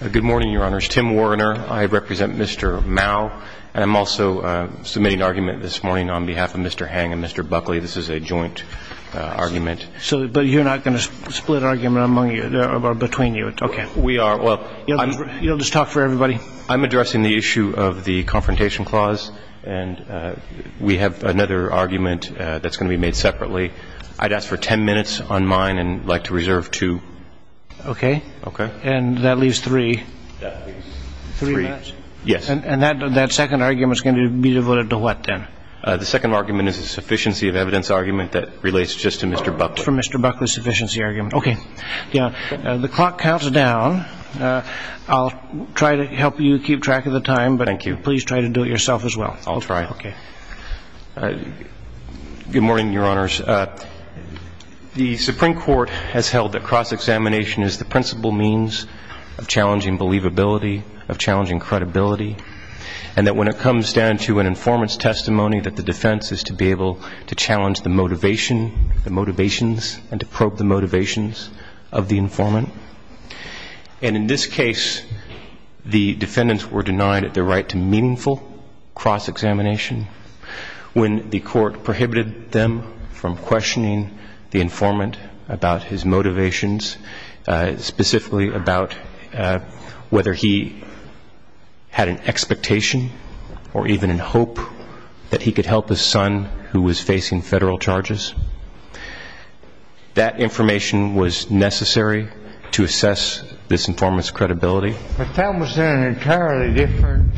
Good morning, your honors. Tim Warriner. I represent Mr. Mao. And I'm also submitting an argument this morning on behalf of Mr. Heng and Mr. Buckley. This is a joint argument. But you're not going to split argument among you or between you? We are. You'll just talk for everybody? I'm addressing the issue of the confrontation clause. And we have another argument that's going to be made separately. I'd ask for ten minutes on mine and I'd like to reserve two. Okay. Okay. And that leaves three. That leaves three minutes. Yes. And that second argument is going to be devoted to what then? The second argument is a sufficiency of evidence argument that relates just to Mr. Buckley. For Mr. Buckley's sufficiency argument. Okay. The clock counts down. I'll try to help you keep track of the time. Thank you. But please try to do it yourself as well. I'll try. Okay. Good morning, your honors. The Supreme Court has held that cross-examination is the principal means of challenging believability, of challenging credibility, and that when it comes down to an informant's testimony, that the defense is to be able to challenge the motivation, the motivations, and to probe the motivations of the informant. And in this case, the defendants were denied the right to meaningful cross-examination when the court prohibited them from questioning the informant about his motivations, specifically about whether he had an expectation or even in hope that he could help his son who was facing federal charges. That information was necessary to assess this informant's credibility. But that was an entirely different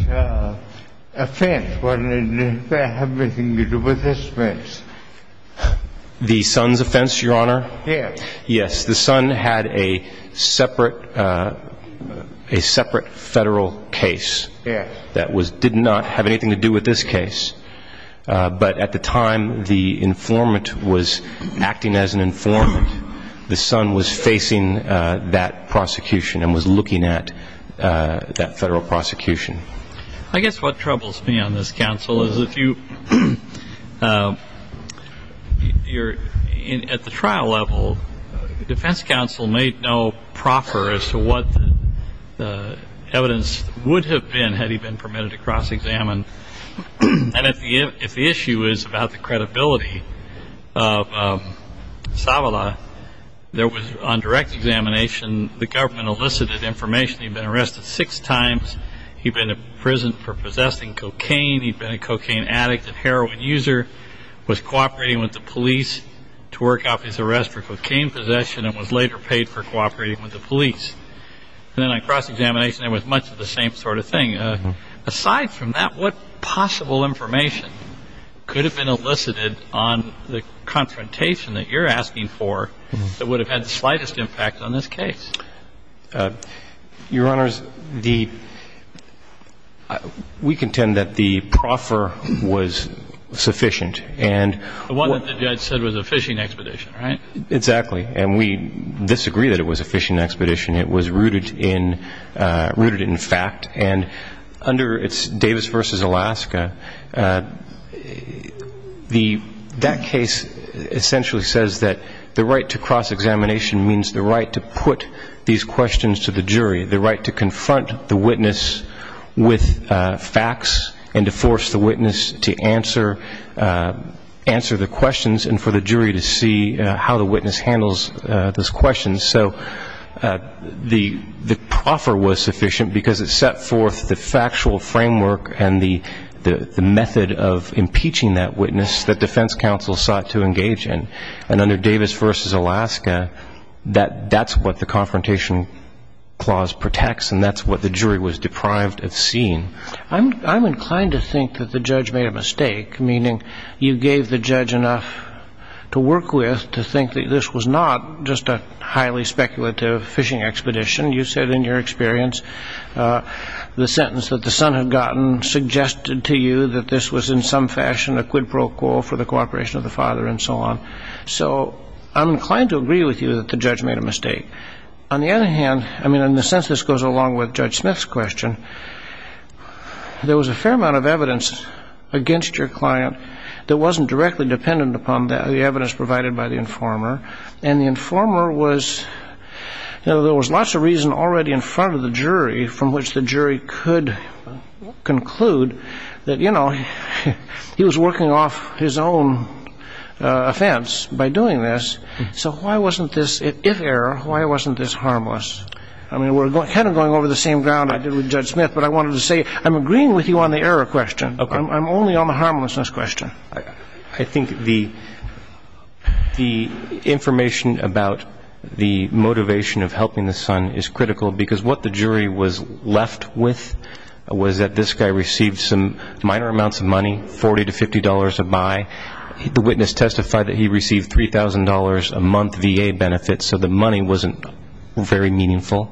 offense, wasn't it? Did that have anything to do with this offense? The son's offense, your honor? Yes. Yes. The son had a separate federal case that did not have anything to do with this case. But at the time the informant was acting as an informant, the son was facing that prosecution and was looking at that federal prosecution. I guess what troubles me on this, counsel, is if you're at the trial level, the defense counsel may know proper as to what the evidence would have been had he been permitted to cross-examine. And if the issue is about the credibility of Savala, there was, on direct examination, the government elicited information he'd been arrested six times, he'd been imprisoned for possessing cocaine, he'd been a cocaine addict and heroin user, was cooperating with the police to work off his arrest for cocaine possession and was later paid for cooperating with the police. And then on cross-examination, it was much of the same sort of thing. Aside from that, what possible information could have been elicited on the confrontation that you're asking for that would have had the slightest impact on this case? Your honors, we contend that the proffer was sufficient. The one that the judge said was a fishing expedition, right? Exactly. And we disagree that it was a fishing expedition. It was rooted in fact. And under Davis v. Alaska, that case essentially says that the right to cross-examination means the right to put these questions to the jury, the right to confront the witness with facts and to force the witness to answer the questions and for the jury to see how the witness handles those questions. So the proffer was sufficient because it set forth the factual framework and the method of impeaching that witness that defense counsel sought to engage in. And under Davis v. Alaska, that's what the confrontation clause protects and that's what the jury was deprived of seeing. I'm inclined to think that the judge made a mistake, meaning you gave the judge enough to work with to think that this was not just a highly speculative fishing expedition. You said in your experience the sentence that the son had gotten suggested to you that this was in some fashion a quid pro quo for the cooperation of the father and so on. So I'm inclined to agree with you that the judge made a mistake. On the other hand, I mean in the sense this goes along with Judge Smith's question, there was a fair amount of evidence against your client that wasn't directly dependent upon the evidence provided by the informer. And the informer was, you know, there was lots of reason already in front of the jury from which the jury could conclude that, you know, he was working off his own offense by doing this. So why wasn't this, if error, why wasn't this harmless? I mean we're kind of going over the same ground I did with Judge Smith, but I wanted to say I'm agreeing with you on the error question. I'm only on the harmlessness question. I think the information about the motivation of helping the son is critical because what the jury was left with was that this guy received some minor amounts of money, $40 to $50 a buy. The witness testified that he received $3,000 a month VA benefits, so the money wasn't very meaningful.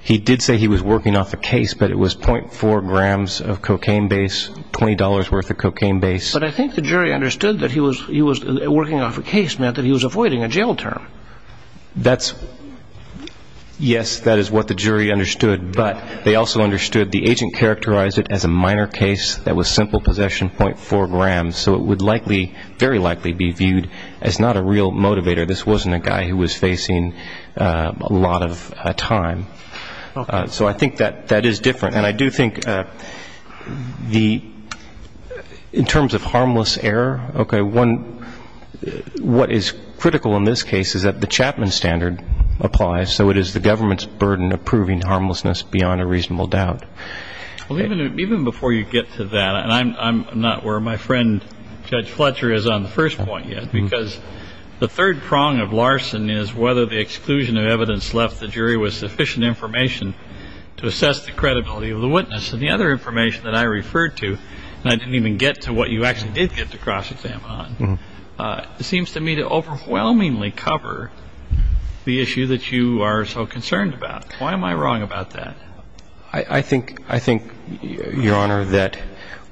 He did say he was working off a case, but it was .4 grams of cocaine base, $20 worth of cocaine base. But I think the jury understood that he was working off a case meant that he was avoiding a jail term. Yes, that is what the jury understood, but they also understood the agent characterized it as a minor case that was simple possession, .4 grams, so it would likely, very likely be viewed as not a real motivator. This wasn't a guy who was facing a lot of time. So I think that that is different, and I do think in terms of harmless error, okay, what is critical in this case is that the Chapman standard applies, so it is the government's burden of proving harmlessness beyond a reasonable doubt. Even before you get to that, and I'm not where my friend Judge Fletcher is on the first point yet, because the third prong of Larson is whether the exclusion of evidence left the jury with sufficient information to assess the credibility of the witness, and the other information that I referred to, and I didn't even get to what you actually did get the cross-exam on, seems to me to overwhelmingly cover the issue that you are so concerned about. Why am I wrong about that? I think, Your Honor, that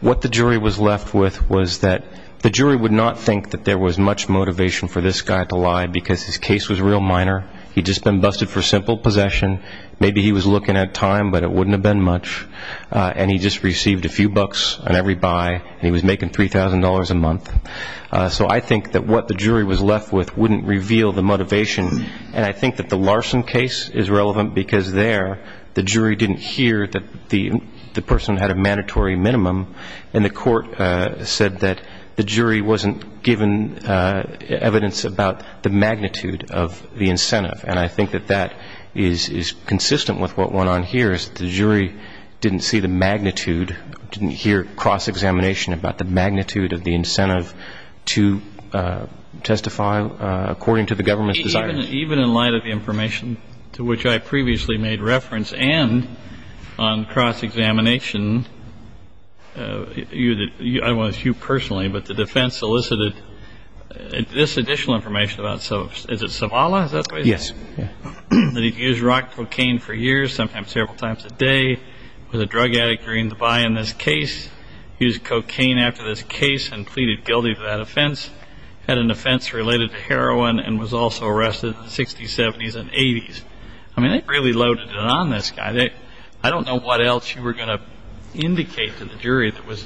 what the jury was left with was that the jury would not think that there was much motivation for this guy to lie because his case was real minor. He had just been busted for simple possession. Maybe he was looking at time, but it wouldn't have been much, and he just received a few bucks on every buy, and he was making $3,000 a month. So I think that what the jury was left with wouldn't reveal the motivation, and I think that the Larson case is relevant because there the jury didn't hear that the person had a mandatory minimum, and the court said that the jury wasn't given evidence about the magnitude of the incentive. And I think that that is consistent with what went on here is that the jury didn't see the magnitude, didn't hear cross-examination about the magnitude of the incentive to testify according to the government's desire. Even in light of the information to which I previously made reference and on cross-examination, I don't know if it's you personally, but the defense solicited this additional information about, is it Zavala? Is that the way you say it? Yes. That he'd used rock cocaine for years, sometimes several times a day, was a drug addict during the buy in this case, used cocaine after this case and pleaded guilty to that offense, had an offense related to heroin and was also arrested in the 60s, 70s, and 80s. I mean, they really loaded it on this guy. I don't know what else you were going to indicate to the jury that was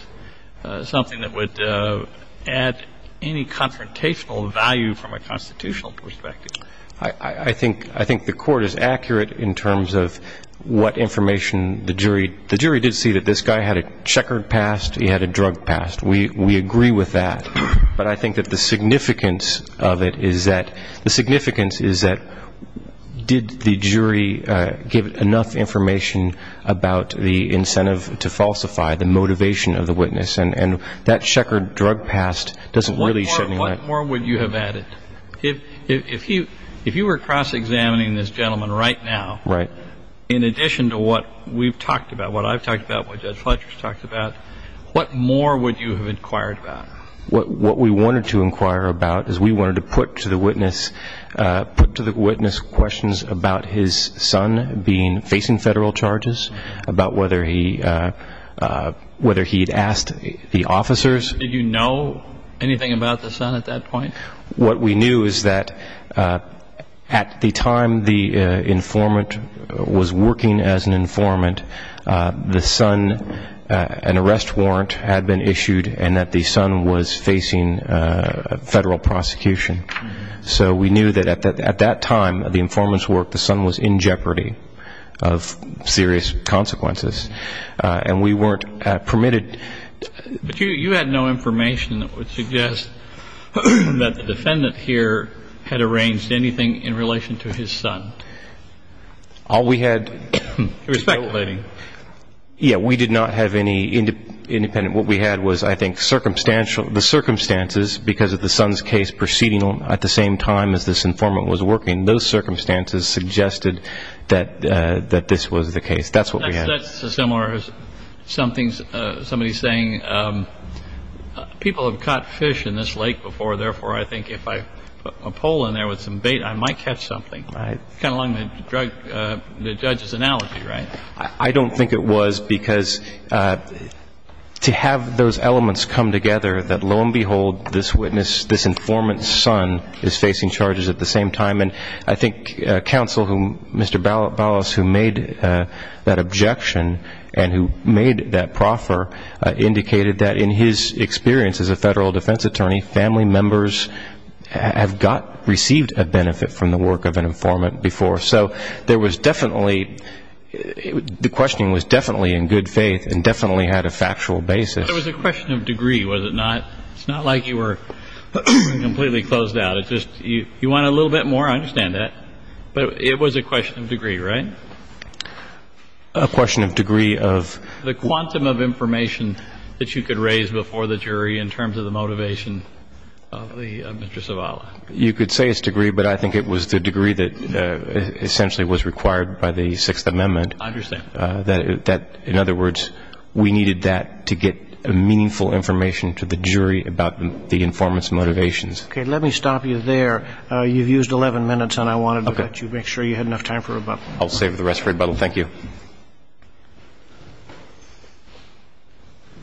something that would add any confrontational value from a constitutional perspective. I think the court is accurate in terms of what information the jury did see that this guy had a checkered past, he had a drug past. We agree with that. But I think that the significance of it is that did the jury give enough information about the incentive to falsify, the motivation of the witness, and that checkered drug past doesn't really shed any light. What more would you have added? If you were cross-examining this gentleman right now, in addition to what we've talked about, what I've talked about, what Judge Fletcher's talked about, what more would you have inquired about? What we wanted to inquire about is we wanted to put to the witness questions about his son facing federal charges, about whether he had asked the officers. Did you know anything about the son at that point? What we knew is that at the time the informant was working as an informant, the son, an arrest warrant had been issued and that the son was facing federal prosecution. So we knew that at that time, the informant's work, the son was in jeopardy of serious consequences. And we weren't permitted. But you had no information that would suggest that the defendant here had arranged anything in relation to his son. All we had was I think the circumstances because of the son's case proceeding at the same time as this informant was working, those circumstances suggested that this was the case. That's what we had. That's similar to somebody saying people have caught fish in this lake before, therefore I think if I put a pole in there with some bait I might catch something. Right. That's kind of along the judge's analogy, right? I don't think it was because to have those elements come together that, lo and behold, this witness, this informant's son is facing charges at the same time. And I think counsel, Mr. Ballas, who made that objection and who made that proffer indicated that in his experience as a federal defense attorney, family members have received a benefit from the work of an informant before. So there was definitely, the questioning was definitely in good faith and definitely had a factual basis. It was a question of degree, was it not? It's not like you were completely closed out. It's just you want a little bit more, I understand that. But it was a question of degree, right? A question of degree of? The quantum of information that you could raise before the jury in terms of the motivation of Mr. Zavala. You could say it's degree, but I think it was the degree that essentially was required by the Sixth Amendment. I understand. That, in other words, we needed that to get meaningful information to the jury about the informant's motivations. Okay. Let me stop you there. You've used 11 minutes, and I wanted to let you make sure you had enough time for rebuttal. I'll save the rest for rebuttal. Thank you.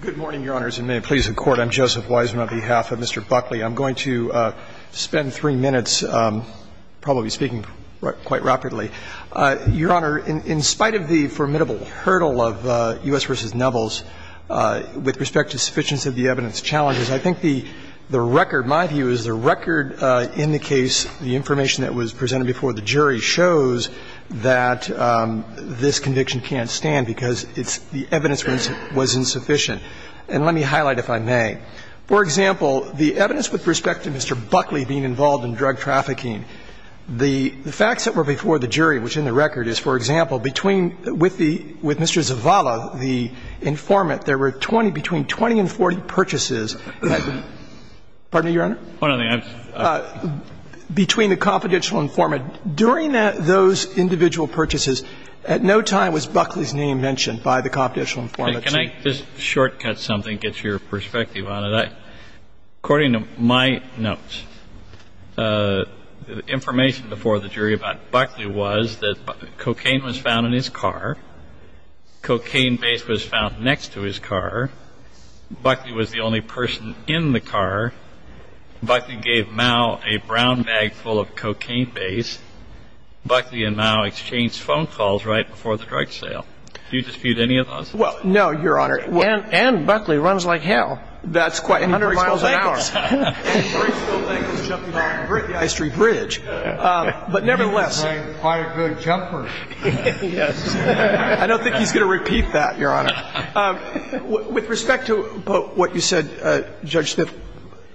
Good morning, Your Honors, and may it please the Court. I'm Joseph Wiseman on behalf of Mr. Buckley. I'm going to spend three minutes probably speaking quite rapidly. Your Honor, in spite of the formidable hurdle of U.S. v. Nevels with respect to sufficiency of the evidence challenges, I think the record, my view is the record in the case, the information that was presented before the jury shows that this conviction can't stand because it's the evidence was insufficient. And let me highlight, if I may. For example, the evidence with respect to Mr. Buckley being involved in drug trafficking, the facts that were before the jury, which in the record is, for example, between the Mr. Zavala, the informant, there were 20, between 20 and 40 purchases. Pardon me, Your Honor? Between the confidential informant. During those individual purchases, at no time was Buckley's name mentioned by the confidential informant. Can I just shortcut something, get your perspective on it? According to my notes, the information before the jury about Buckley was that cocaine was found in his car, cocaine base was found next to his car, Buckley was the only person in the car, Buckley gave Mao a brown bag full of cocaine base, Buckley and Mao exchanged phone calls right before the drug sale. Do you dispute any of those? Well, no, Your Honor. And Buckley runs like hell. That's quite. A hundred miles an hour. And Bruce will thank us jumping off the ice tree bridge. But nevertheless. He was playing quite a good jumper. Yes. I don't think he's going to repeat that, Your Honor. With respect to what you said, Judge Smith,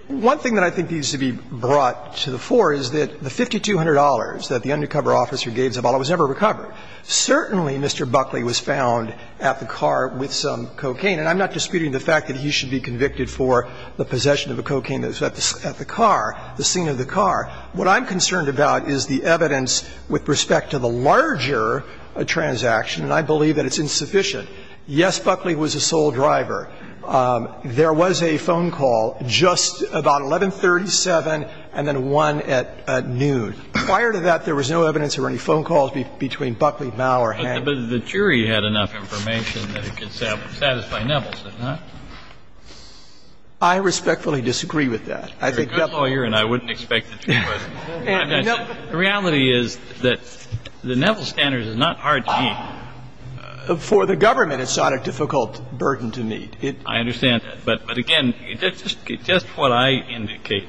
one thing that I think needs to be brought to the fore is that the $5,200 that the undercover officer gave Zavala was never recovered. Certainly Mr. Buckley was found at the car with some cocaine. And I'm not disputing the fact that he should be convicted for the possession of a cocaine that was at the car, the scene of the car. What I'm concerned about is the evidence with respect to the larger transaction, and I believe that it's insufficient. Yes, Buckley was a sole driver. There was a phone call just about 1137 and then one at noon. Prior to that, there was no evidence there were any phone calls between Buckley, Mao, or Hancock. But the jury had enough information that it could satisfy Nevels, did it not? I respectfully disagree with that. I think that's a good point. You're a good lawyer, and I wouldn't expect that you would. The reality is that the Nevels standard is not hard to meet. For the government, it's not a difficult burden to meet. I understand that. But, again, just what I indicated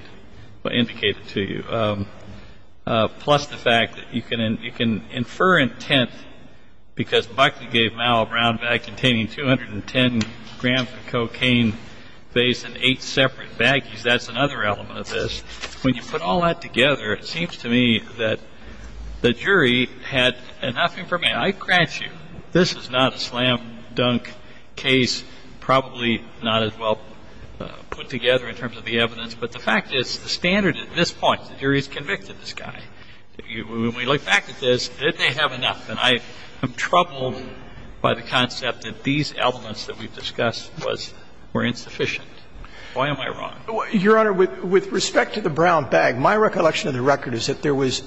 to you, plus the fact that you can infer intent because Buckley gave Mao a brown bag containing 210 grams of cocaine, based on eight separate baggies. That's another element of this. When you put all that together, it seems to me that the jury had enough information. I grant you this is not a slam-dunk case, probably not as well put together in terms of the evidence. But the fact is, the standard at this point, the jury has convicted this guy. When we look back at this, did they have enough? And I am troubled by the concept that these elements that we've discussed were insufficient. Why am I wrong? Your Honor, with respect to the brown bag, my recollection of the record is that there was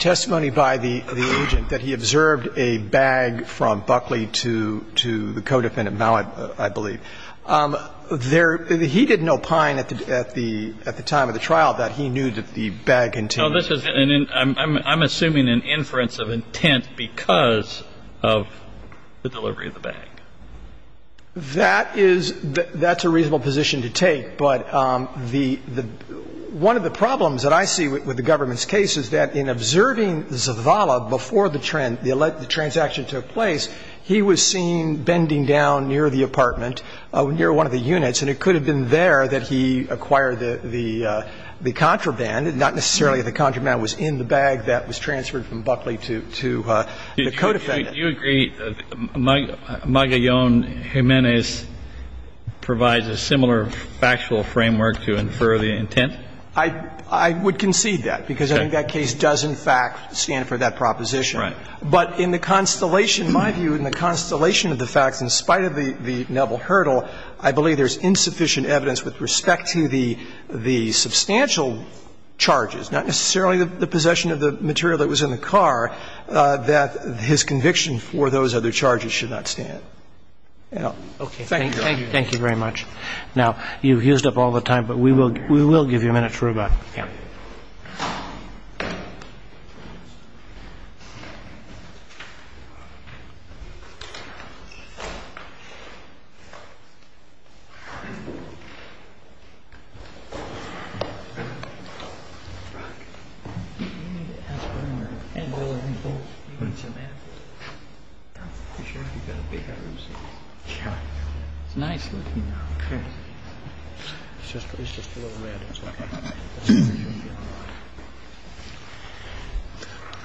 testimony by the agent that he observed a bag from Buckley to the co-defendant, Mao, I believe. He didn't opine at the time of the trial that he knew that the bag contained. I'm assuming an inference of intent because of the delivery of the bag. That's a reasonable position to take. But the one of the problems that I see with the government's case is that in observing Zavala before the transaction took place, he was seen bending down near the apartment, near one of the units. And it could have been there that he acquired the contraband, not necessarily the contraband that was in the bag that was transferred from Buckley to the co-defendant. Do you agree Magallon Jimenez provides a similar factual framework to infer the intent? I would concede that because I think that case does, in fact, stand for that proposition. Right. But in the constellation, my view, in the constellation of the facts, in spite of the noble hurdle, I believe there's insufficient evidence with respect to the substantial charges, not necessarily the possession of the material that was in the car, that his conviction for those other charges should not stand. Okay. Thank you, Your Honor. Thank you very much. Now, you've used up all the time, but we will give you a minute for rebuttal. Okay.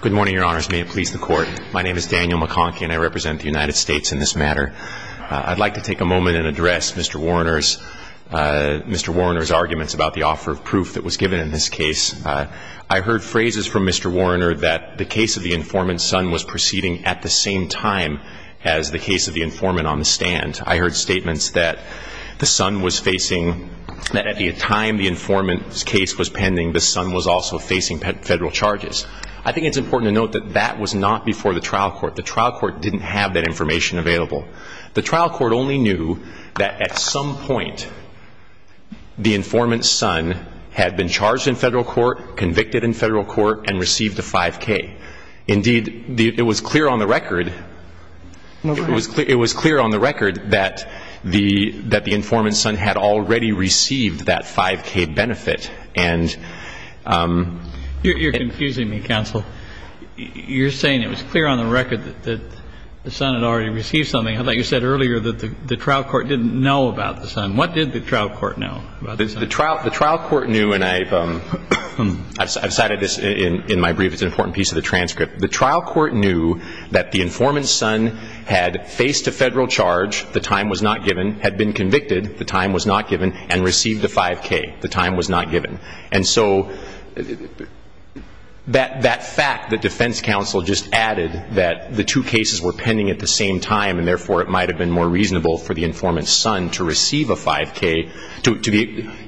Good morning, Your Honors. May it please the Court. My name is Daniel McConkie, and I represent the United States in this matter. I'd like to take a moment and address Mr. Warner's – Mr. Warner's arguments about the offer of proof that was given in this case. I heard phrases from Mr. Warner that the case of the informant's son was perceived time as the case of the informant on the stand. I heard statements that the son was facing – that at the time the informant's case was pending, the son was also facing federal charges. I think it's important to note that that was not before the trial court. The trial court didn't have that information available. The trial court only knew that at some point the informant's son had been charged in federal court, convicted in federal court, and received a 5K. Indeed, it was clear on the record – it was clear on the record that the informant's son had already received that 5K benefit, and – You're confusing me, counsel. You're saying it was clear on the record that the son had already received something. I thought you said earlier that the trial court didn't know about the son. What did the trial court know about the son? The trial court knew, and I've cited this in my brief. It's an important piece of the transcript. The trial court knew that the informant's son had faced a federal charge, the time was not given, had been convicted, the time was not given, and received a 5K. The time was not given. And so that fact that defense counsel just added that the two cases were pending at the same time and therefore it might have been more reasonable for the informant's son to receive a 5K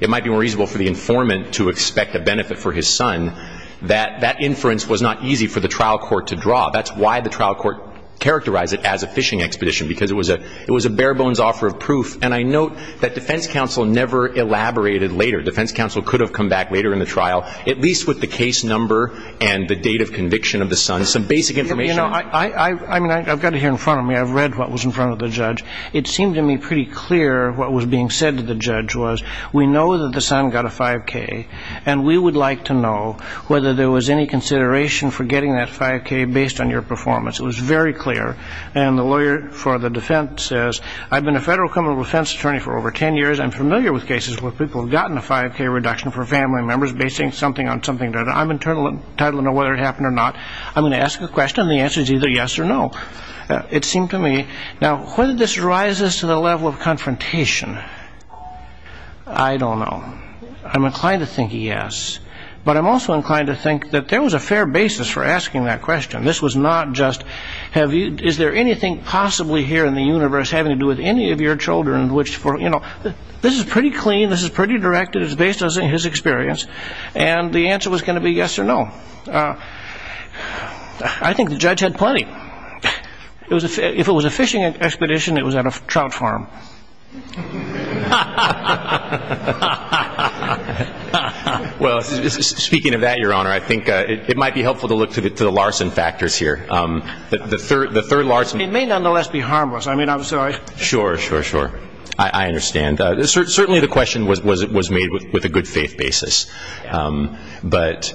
– it might be more reasonable for the informant to expect a benefit for his son – that that inference was not easy for the trial court to draw. That's why the trial court characterized it as a fishing expedition, because it was a bare-bones offer of proof. And I note that defense counsel never elaborated later. Defense counsel could have come back later in the trial, at least with the case number and the date of conviction of the son, some basic information. I've got it here in front of me. I've read what was in front of the judge. It seemed to me pretty clear what was being said to the judge was, we know that the son got a 5K, and we would like to know whether there was any consideration for getting that 5K based on your performance. It was very clear. And the lawyer for the defense says, I've been a federal criminal defense attorney for over 10 years. I'm familiar with cases where people have gotten a 5K reduction for family members based on saying something on something. I'm entitled to know whether it happened or not. I'm going to ask a question, and the answer is either yes or no. It seemed to me. Now, whether this rises to the level of confrontation, I don't know. I'm inclined to think yes. But I'm also inclined to think that there was a fair basis for asking that question. This was not just, is there anything possibly here in the universe having to do with any of your children? This is pretty clean. This is pretty directed. It's based on his experience. And the answer was going to be yes or no. I think the judge had plenty. If it was a fishing expedition, it was at a trout farm. Well, speaking of that, Your Honor, I think it might be helpful to look to the Larson factors here. The third Larson. It may nonetheless be harmless. I mean, I'm sorry. Sure, sure, sure. I understand. Certainly the question was made with a good faith basis. But,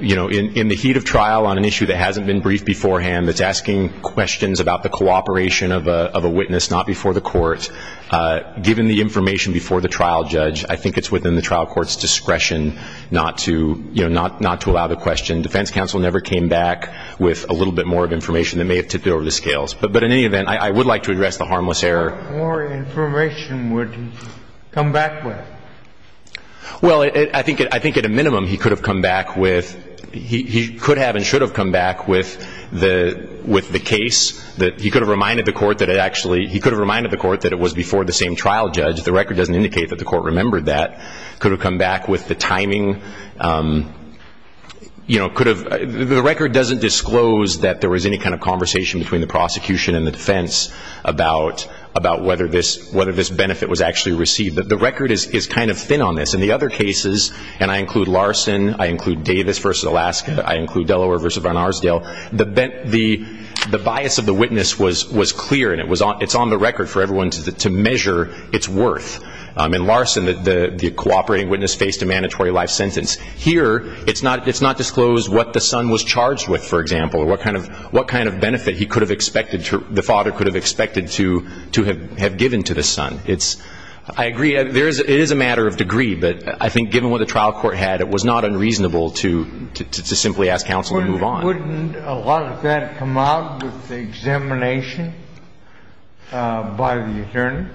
you know, in the heat of trial on an issue that hasn't been briefed beforehand, that's asking questions about the cooperation of a witness not before the court, given the information before the trial judge, I think it's within the trial court's discretion not to allow the question. Defense counsel never came back with a little bit more of information that may have tipped it over the scales. But in any event, I would like to address the harmless error. What more information would you come back with? Well, I think at a minimum he could have come back with the case. He could have reminded the court that it was before the same trial judge. The record doesn't indicate that the court remembered that. Could have come back with the timing. The record doesn't disclose that there was any kind of conversation between the prosecution and the defense about whether this benefit was actually received. The record is kind of thin on this. In the other cases, and I include Larson, I include Davis v. Alaska, I include Delaware v. Barnarsdale, the bias of the witness was clear and it's on the record for everyone to measure its worth. In Larson, the cooperating witness faced a mandatory life sentence. Here, it's not disclosed what the son was charged with, for example, or what kind of benefit the father could have expected to have given to the son. I agree, it is a matter of degree, but I think given what the trial court had, it was not unreasonable to simply ask counsel to move on. Wouldn't a lot of that come out with the examination by the attorney?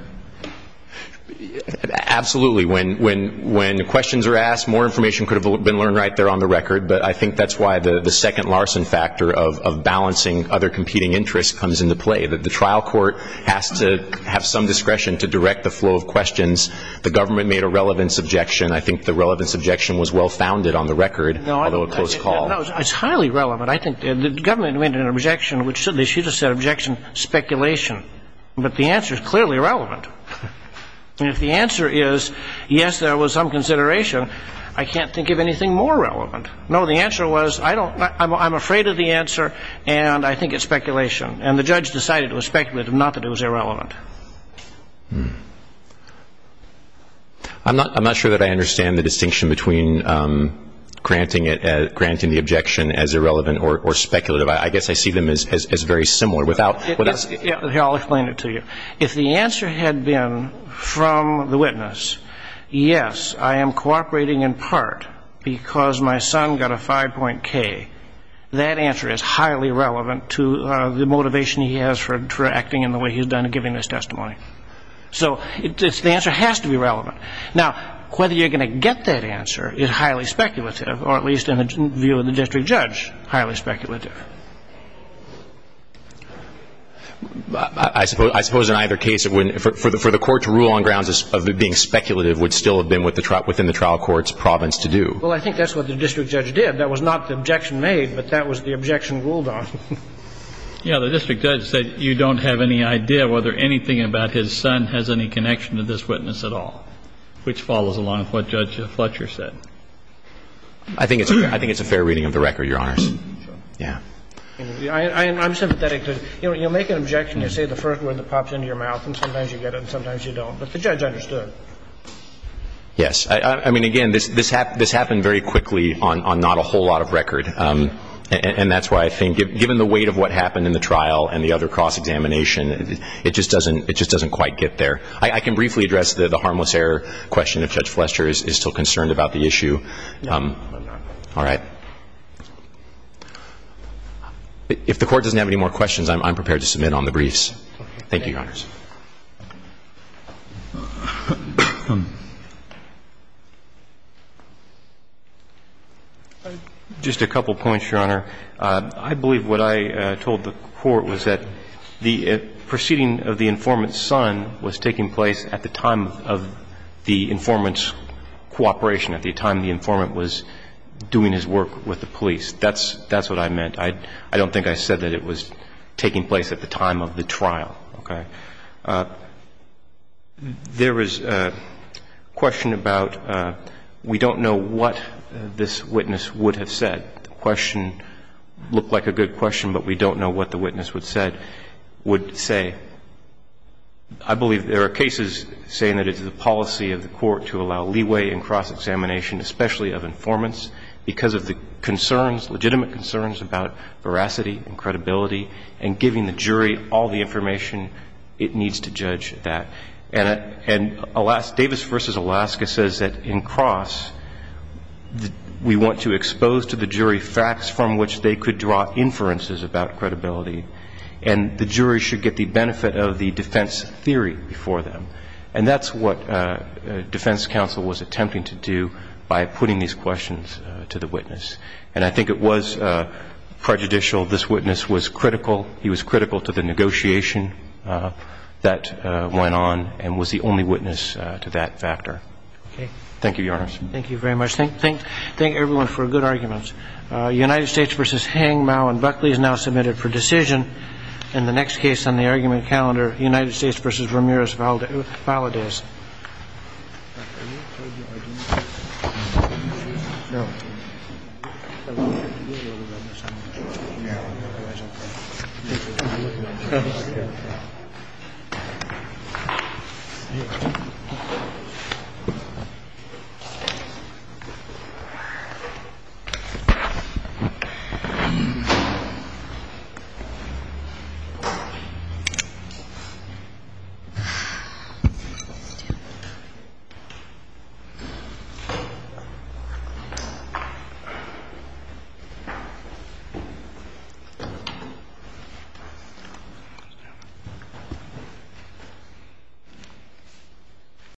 Absolutely. When questions are asked, more information could have been learned right there on the record, but I think that's why the second Larson factor of balancing other competing interests comes into play, that the trial court has to have some discretion to direct the flow of questions. The government made a relevance objection. I think the relevance objection was well founded on the record, although a close call. No, it's highly relevant. I think the government made an objection, which certainly should have said objection, speculation. But the answer is clearly relevant. And if the answer is, yes, there was some consideration, I can't think of anything more relevant. No, the answer was, I'm afraid of the answer and I think it's speculation. And the judge decided it was speculative, not that it was irrelevant. I'm not sure that I understand the distinction between granting the objection as irrelevant or speculative. I guess I see them as very similar. Here, I'll explain it to you. If the answer had been from the witness, yes, I am cooperating in part because my son got a 5.K, that answer is highly relevant to the motivation he has for acting in the way he's done in giving this testimony. So the answer has to be relevant. Now, whether you're going to get that answer is highly speculative, or at least in the view of the district judge, highly speculative. I suppose in either case, for the court to rule on grounds of it being speculative would still have been within the trial court's province to do. Well, I think that's what the district judge did. That was not the objection made, but that was the objection ruled on. Yeah, the district judge said you don't have any idea whether anything about his son has any connection to this witness at all, which follows along with what Judge Fletcher said. I think it's a fair reading of the record, Your Honors. Yeah. I'm sympathetic to it. You know, you make an objection, you say the first word that pops into your mouth, and sometimes you get it and sometimes you don't, but the judge understood. Yes. I mean, again, this happened very quickly on not a whole lot of record, and that's why I think given the weight of what happened in the trial and the other cross-examination, it just doesn't quite get there. I can briefly address the harmless error question if Judge Fletcher is still concerned about the issue. No, I'm not. All right. If the Court doesn't have any more questions, I'm prepared to submit on the briefs. Thank you, Your Honors. Just a couple points, Your Honor. I believe what I told the Court was that the proceeding of the informant's son was taking place at the time of the informant's cooperation, at the time the informant was doing his work with the police. That's what I meant. I don't think I said that it was taking place at the time of the trial, okay? There is a question about we don't know what this witness would have said. The question looked like a good question, but we don't know what the witness would say. I believe there are cases saying that it's the policy of the Court to allow leeway in cross-examination, especially of informants, because of the legitimate concerns about veracity and credibility and giving the jury all the information it needs to judge that. And Davis v. Alaska says that in cross, we want to expose to the jury facts from which they could draw inferences about credibility, and the jury should get the benefit of the defense theory before them. And that's what defense counsel was attempting to do by putting these questions to the witness. And I think it was prejudicial. This witness was critical. He was critical to the negotiation that went on and was the only witness to that factor. Thank you, Your Honor. Thank you very much. Thank everyone for good arguments. United States v. Heng, Mao, and Buckley is now submitted for decision. In the next case on the argument calendar, United States v. Ramirez-Valadez. Thank you.